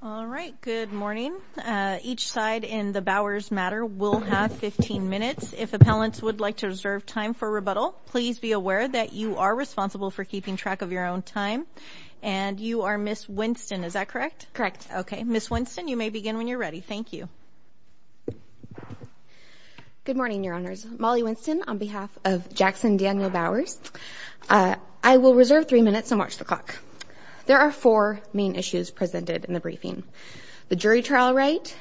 All right, good morning. Each side in the Bowers matter will have 15 minutes. If appellants would like to reserve time for rebuttal, please be aware that you are responsible for keeping track of your own time. And you are Ms. Winston, is that correct? Okay. Ms. Winston, you may begin when you're ready. Thank you. Good morning, your honors. Molly Winston on behalf of Jackson Daniel Bowers. I will reserve three minutes and watch the clock. There are four main issues presented in the briefing. The jury trial right,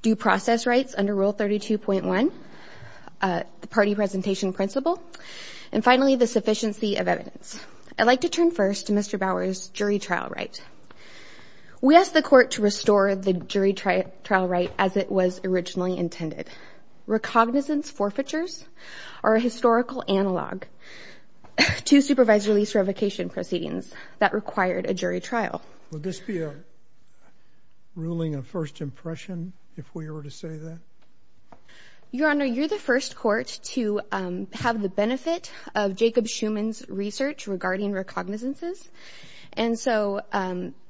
due process rights under Rule 32.1, the party presentation principle, and finally, the sufficiency of evidence. I'd like to turn first to Mr. Bowers' jury trial right. We asked the court to restore the jury trial right as it was originally intended. Recognizance forfeitures are a historical analog to supervised release revocation proceedings that required a jury trial. Would this be a ruling of first impression if we were to say that? Your honor, you're the first court to have the benefit of Jacob Schuman's research regarding recognizances. And so,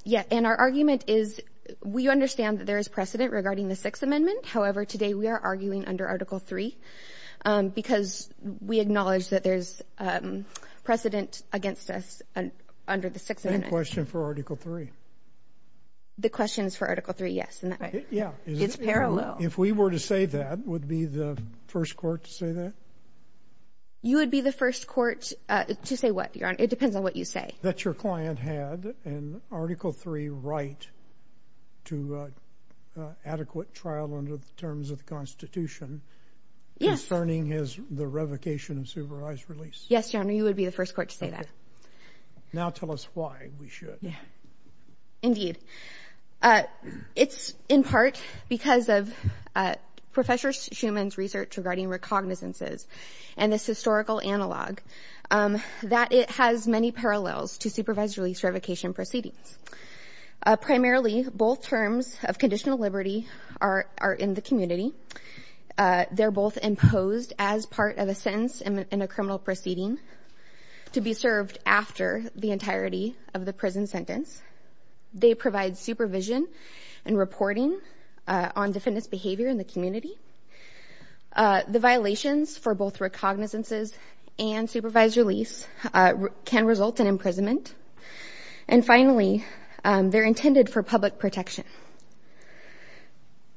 yeah, and our argument is we understand that there is precedent regarding the Sixth Amendment. However, we are arguing under Article III because we acknowledge that there's precedent against us under the Sixth Amendment. Same question for Article III. The question is for Article III, yes. Yeah. It's parallel. If we were to say that, would be the first court to say that? You would be the first court to say what, your honor? It depends on what you say. That your client had an Article III right to adequate trial under the terms of the Constitution. Yes. Concerning the revocation of supervised release. Yes, your honor, you would be the first court to say that. Now tell us why we should. Indeed. It's in part because of Professor Schuman's research regarding recognizances and this historical analog. That it has many parallels to supervised release revocation proceedings. Primarily, both terms of conditional liberty are in the community. They're both imposed as part of a sentence in a criminal proceeding to be served after the entirety of the prison sentence. They provide supervision and reporting on defendants' behavior in the community. The violations for both recognizances and supervised release can result in imprisonment. And finally, they're intended for public protection.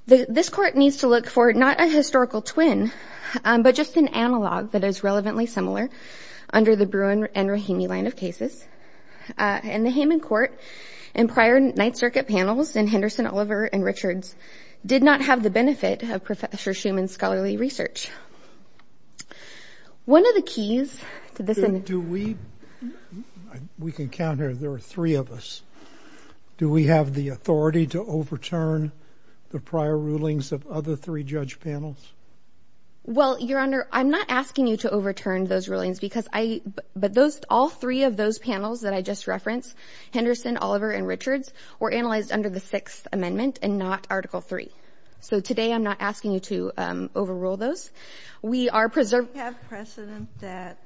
This court needs to look for not a historical twin, but just an analog that is relevantly similar under the Bruin and Rahimi line of cases. In the Hayman Court and prior Ninth Circuit panels in Henderson, Oliver, and Richards did not have the benefit of Professor Schuman's scholarly research. One of the keys to this... Do we, we can count here, there are three of us. Do we have the authority to overturn the prior rulings of other three judge panels? Well, your honor, I'm not asking you to overturn those rulings because I, but those, all three of those panels that I just referenced, Henderson, Oliver, and Richards, were analyzed under the Sixth Amendment and not Article Three. So today, I'm not asking you to overrule those. We are preserved... Do you have precedent that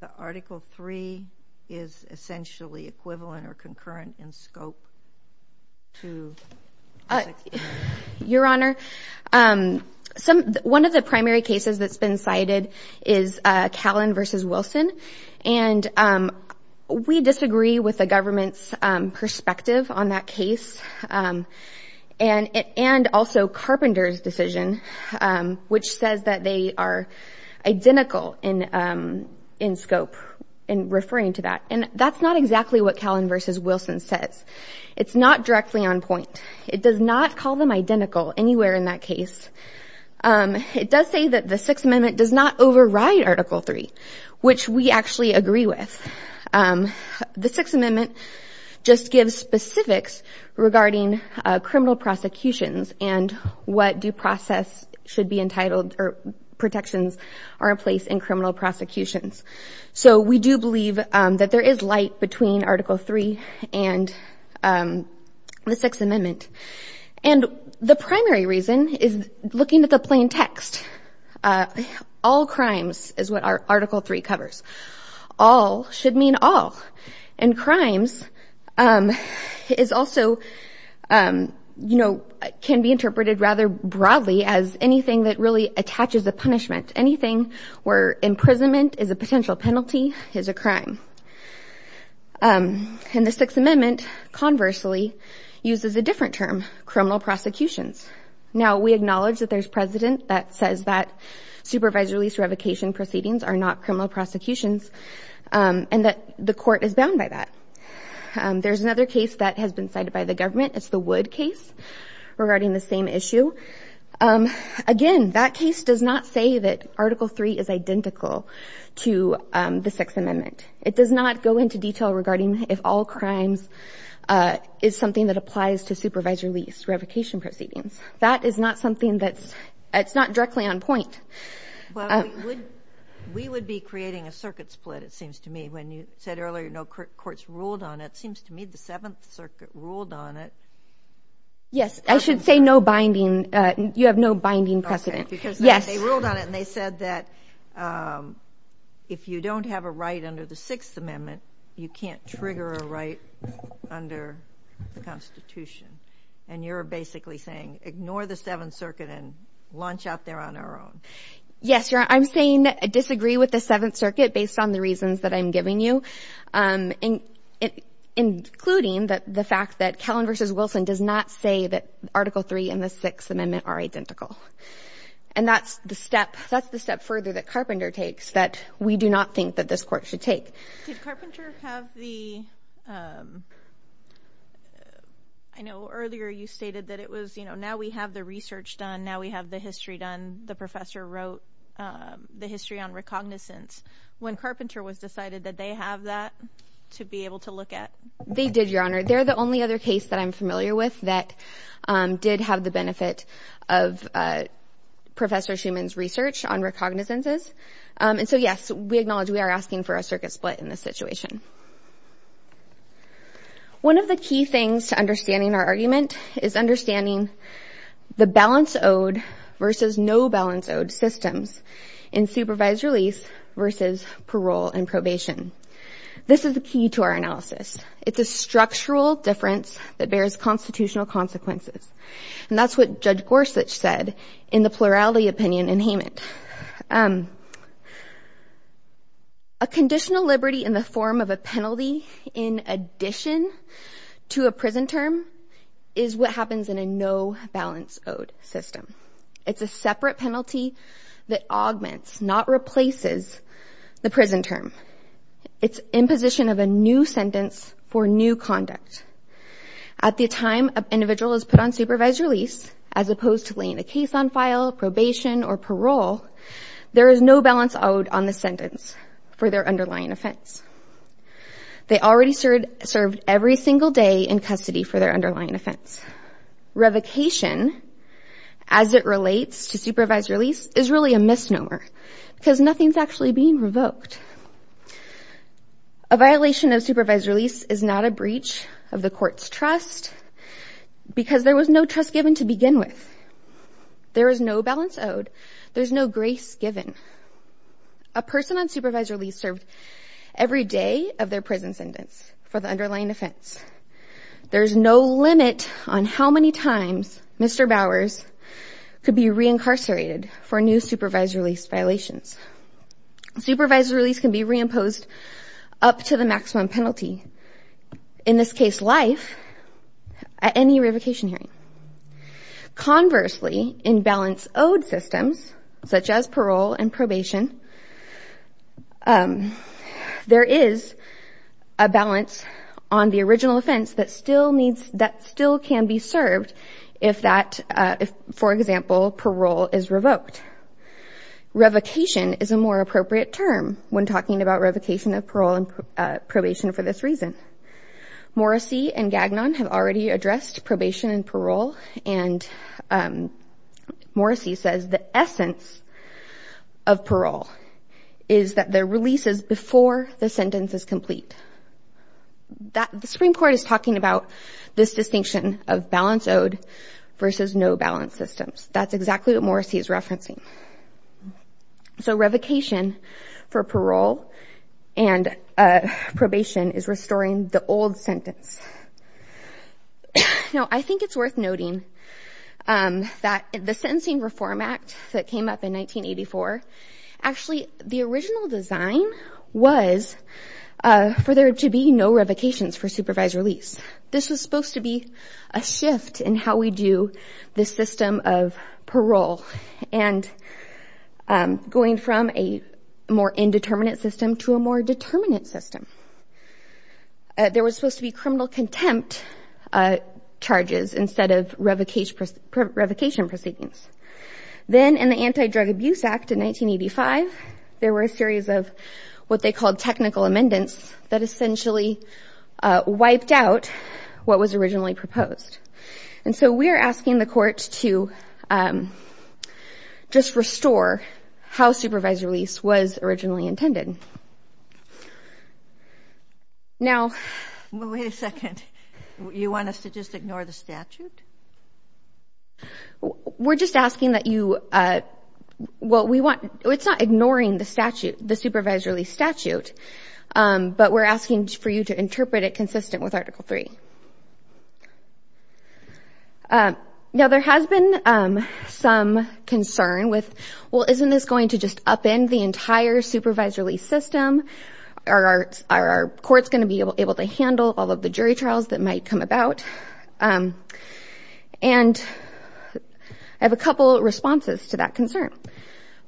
the Article Three is essentially equivalent or concurrent in scope to... Your honor, some, one of the primary cases that's been cited is Callan versus Wilson. And we disagree with the government's perspective on that case. And, and also Carpenter's decision, which says that they are identical in, in scope in referring to that. And that's not exactly what Callan versus Wilson says. It's not directly on point. It does not call them identical anywhere in that case. It does say that the Sixth Amendment does not override Article Three, which we actually agree with. The Sixth Amendment just gives specifics regarding criminal prosecutions and what due process should be entitled or protections are in place in criminal prosecutions. So we do believe that there is light between Article Three and the Sixth Amendment. And the primary reason is looking at the plain text. All crimes is what our Article Three covers. All should mean all. And crimes is also, you know, can be interpreted rather broadly as anything that really attaches a punishment. Anything where imprisonment is a potential penalty is a crime. And the Sixth Amendment, conversely, uses a different term, criminal prosecutions. Now, we acknowledge that there's precedent that says that supervisory release revocation proceedings are not criminal prosecutions and that the court is bound by that. There's another case that has been cited by the government. It's the Wood case regarding the same issue. Again, that case does not say that Article Three is identical to the Sixth Amendment. It does not go into detail regarding if all crimes is something applies to supervisory release revocation proceedings. That is not something that's it's not directly on point. We would be creating a circuit split, it seems to me, when you said earlier no courts ruled on it. It seems to me the Seventh Circuit ruled on it. Yes, I should say no binding. You have no binding precedent. Yes. They ruled on it and they said that if you don't have a right under the Sixth Amendment, you can't trigger a right under the Constitution. And you're basically saying, ignore the Seventh Circuit and launch out there on our own. Yes. I'm saying disagree with the Seventh Circuit based on the reasons that I'm giving you, including the fact that Kellen v. Wilson does not say that Article Three and the Sixth Amendment are identical. And that's the step that's the step further that Carpenter takes that we do not think that this court should take. I know earlier you stated that it was, you know, now we have the research done. Now we have the history done. The professor wrote the history on recognizance when Carpenter was decided that they have that to be able to look at. They did, Your Honor. They're the only other case that I'm familiar with that did have the benefit of Professor Schuman's research on recognizances. And so, yes, we acknowledge we are asking for a circuit split in this situation. One of the key things to understanding our argument is understanding the balance owed versus no balance owed systems in supervised release versus parole and probation. This is the key to our analysis. It's a structural difference that bears constitutional consequences. And that's what Judge Gorsuch said in the plurality opinion in Hayment. A conditional liberty in the form of a penalty in addition to a prison term is what happens in a no balance owed system. It's a separate penalty that augments, not replaces, the prison term. It's imposition of a new sentence for new conduct. At the time an individual is put on supervised release, as opposed to laying a case on file, probation, or parole, there is no balance owed on the sentence for their underlying offense. They already served every single day in custody for their underlying offense. Revocation, as it relates to supervised release, is really a violation of supervised release. A violation of supervised release is not a breach of the court's trust because there was no trust given to begin with. There is no balance owed. There's no grace given. A person on supervised release served every day of their prison sentence for the underlying offense. There's no limit on how many times Mr. Bowers could be reincarcerated for new supervised release violations. Supervised release can be reimposed up to the maximum penalty, in this case life, at any revocation hearing. Conversely, in balance owed systems, such as parole and probation, there is a balance on the original offense that still needs, that still can be served if that, for example, parole is revoked. Revocation is a more appropriate term when talking about revocation of parole and probation for this reason. Morrissey and Gagnon have already addressed probation and parole, and Morrissey says the essence of parole is that the release is before the sentence is complete. The Supreme Court is talking about this distinction of balance owed versus no balance systems. That's exactly what Morrissey is referencing. So, revocation for parole and probation is restoring the old sentence. Now, I think it's worth noting that the Sentencing Reform Act that came up in 1984, actually the original design was for there to be no revocations for supervised release. This was supposed to be a shift in how we do the system of parole and going from a more indeterminate system to a more determinate system. There was supposed to be criminal contempt charges instead of revocation proceedings. Then, in the Anti-Drug Abuse Act in 1985, there were a series of what they called technical amendments that essentially wiped out what was originally proposed. And so, we're asking the court to just restore how supervised release was originally intended. Now, wait a second. You want us to just ignore the statute? We're just asking that you, well, we want, it's not ignoring the statute, the supervised release statute, but we're asking for you to interpret it consistent with Article 3. Now, there has been some concern with, well, isn't this going to just upend the entire supervised release system? Are courts going to be able to handle all of the jury trials that might come about? And I have a couple of responses to that concern.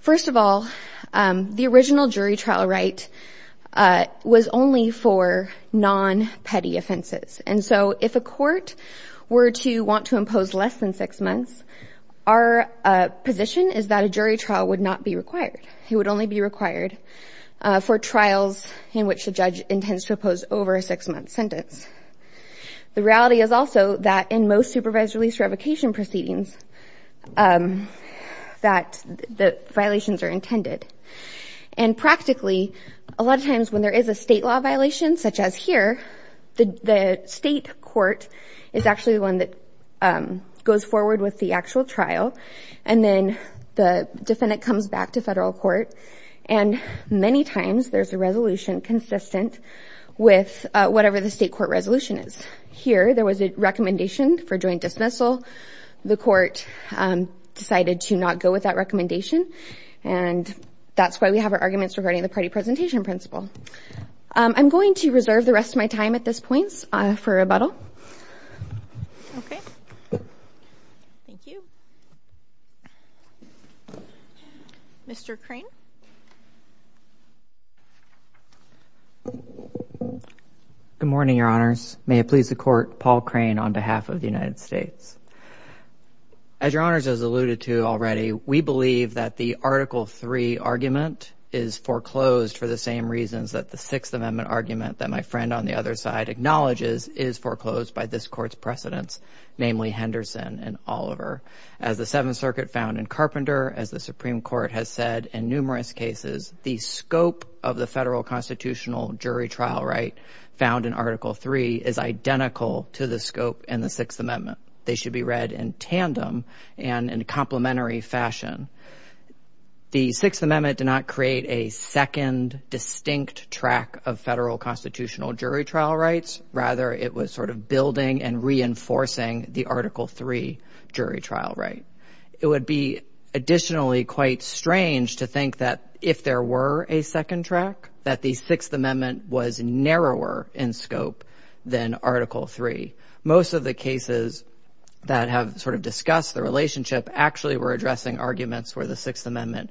First of all, the original jury trial right was only for non-petty offenses. And so, if a court were to want to impose less than six months, our position is that a jury trial would not be required. It would only be required for trials in which the judge intends to impose over a six-month sentence. The reality is also that in most supervised release revocation proceedings, that the violations are intended. And practically, a lot of times when there is a state law violation, such as here, the state court is actually the one that goes forward with the actual trial. And then the defendant comes back to federal court. And many times, there's a resolution consistent with whatever the state court resolution is. Here, there was a recommendation for joint dismissal. The court decided to not go with that recommendation. And that's why we have our arguments regarding the party presentation principle. I'm going to reserve the rest of time at this point for rebuttal. Okay. Thank you. Mr. Crane. Good morning, Your Honors. May it please the Court, Paul Crane on behalf of the United States. As Your Honors has alluded to already, we believe that the Article III argument is foreclosed for the same reasons that the Sixth Amendment argument that my friend on the other side acknowledges is foreclosed by this Court's precedents, namely Henderson and Oliver. As the Seventh Circuit found in Carpenter, as the Supreme Court has said in numerous cases, the scope of the federal constitutional jury trial right found in Article III is identical to the scope in the Sixth Amendment. They should be read in tandem and in complementary fashion. The Sixth Amendment did not create a second distinct track of federal constitutional jury trial rights. Rather, it was sort of building and reinforcing the Article III jury trial right. It would be additionally quite strange to think that if there were a second track, that the Sixth Amendment was narrower in scope than Article III. Most of the cases that have sort of discussed the relationship actually were addressing arguments where the Sixth Amendment,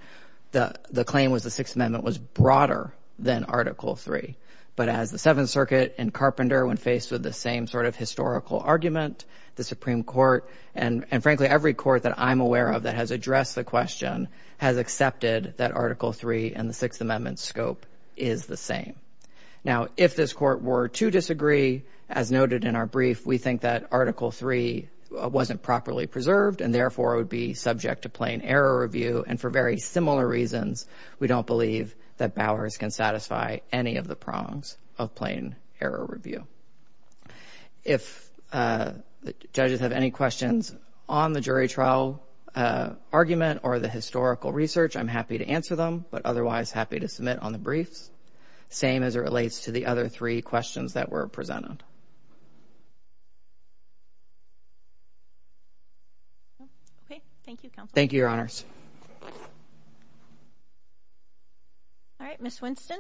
the claim was the Sixth Amendment was broader than Article III. But as the Seventh Circuit and Carpenter, when faced with the same sort of historical argument, the Supreme Court, and frankly every court that I'm aware of that has addressed the question, has accepted that Article III and the Sixth Amendment scope is the same. Now, if this were to disagree, as noted in our brief, we think that Article III wasn't properly preserved, and therefore, it would be subject to plain error review. And for very similar reasons, we don't believe that Bowers can satisfy any of the prongs of plain error review. If the judges have any questions on the jury trial argument or the historical research, I'm happy to answer them, but otherwise happy to submit on the briefs. Same as it relates to the other three questions that were presented. Okay. Thank you, Counsel. Thank you, Your Honors. All right. Ms. Winston.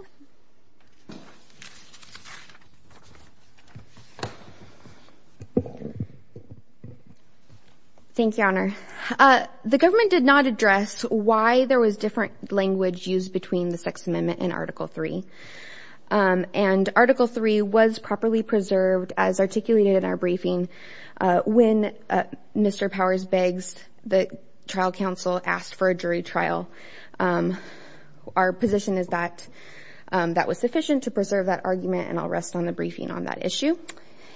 Thank you, Your Honor. The government did not address why there was different language used between the Sixth Amendment and Article III. And Article III was properly preserved as articulated in our briefing when Mr. Powers-Beggs, the trial counsel, asked for a jury trial. Our position is that that was sufficient to preserve that argument, and I'll rest on the briefing on that issue.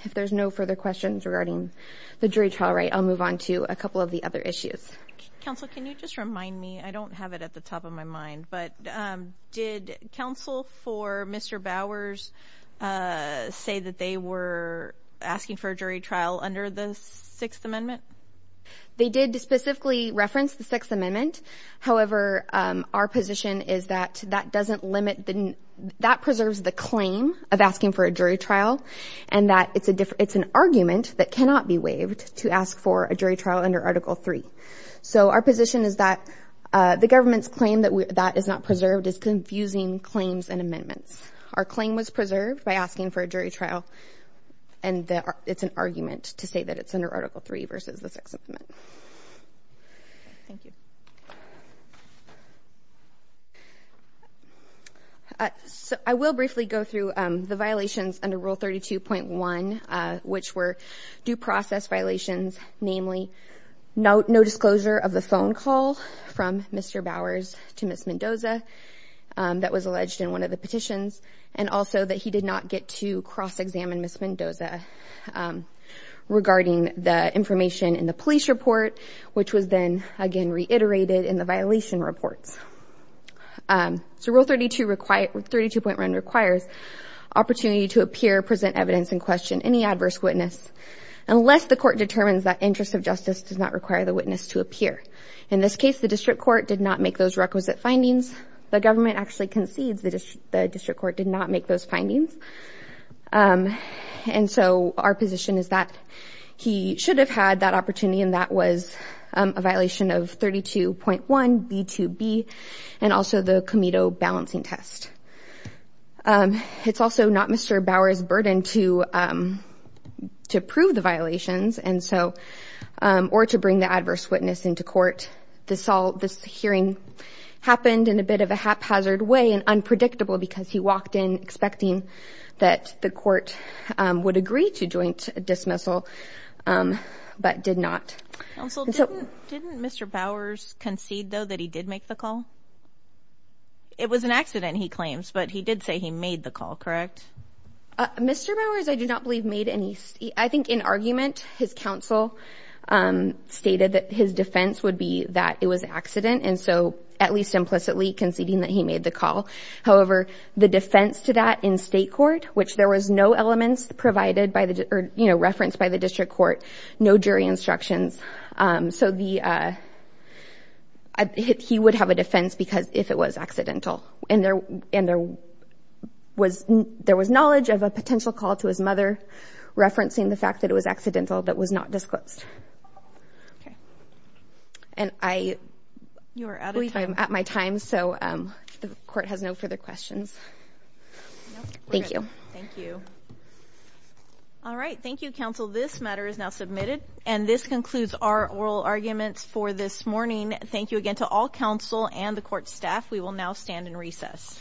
If there's no further questions regarding the jury trial, I'll move on to a couple of the other issues. Counsel, can you just remind me, I don't have it at the top of my mind, but did counsel for Mr. Bowers say that they were asking for a jury trial under the Sixth Amendment? They did specifically reference the Sixth Amendment. However, our position is that that doesn't limit the, that preserves the claim of asking for a jury trial, and that it's a different, it's an argument that cannot be waived to ask for a jury trial under Article III. So our position is that the government's claim that that is not preserved is confusing claims and amendments. Our claim was preserved by asking for a jury trial, and it's an argument to say that it's under Article III versus the Sixth Amendment. Thank you. So I will briefly go through the violations under Rule 32.1, which were due process violations, namely, no disclosure of the phone call from Mr. Bowers to Ms. Mendoza that was alleged in one of the petitions, and also that he did not get to cross-examine Ms. Mendoza regarding the information in the police report, which was then, again, reiterated in the violation reports. So Rule 32 requires, 32.1 requires opportunity to appear, present evidence, and question any adverse witness unless the court determines that interest of justice does not require the witness to appear. In this case, the district court did not make those requisite findings. The government actually concedes that the district court did not make those findings, and so our position is that he should have had that opportunity, and that was a violation of 32.1b2b, and also the Comito balancing test. It's also not Mr. Bowers' burden to prove the violations, or to bring the adverse witness into court. This hearing happened in a bit of a haphazard way and unpredictable because he walked in expecting that the court would agree to joint dismissal, but did not. Didn't Mr. Bowers concede, though, that he did make the call? It was an accident, he claims, but he did say he made the call, correct? Mr. Bowers, I do not believe, made any. I think in argument, his counsel stated that his defense would be that it was an accident, and so at least implicitly conceding that he made the call. However, the defense to that in state court, which there was no elements provided by the, you know, referenced by the district court, no jury instructions, so the, I, he would have a defense because if it was accidental, and there, and there was, there was knowledge of a potential call to his mother referencing the fact that it was accidental that was not disclosed. Okay, and I, you're out of time, I'm at my time, so the court has no further questions. Thank you. Thank you. All right, thank you, counsel. This matter is now submitted, and this concludes our oral arguments for this morning. Thank you again to all counsel and the court staff. We will now stand in recess. Thank you.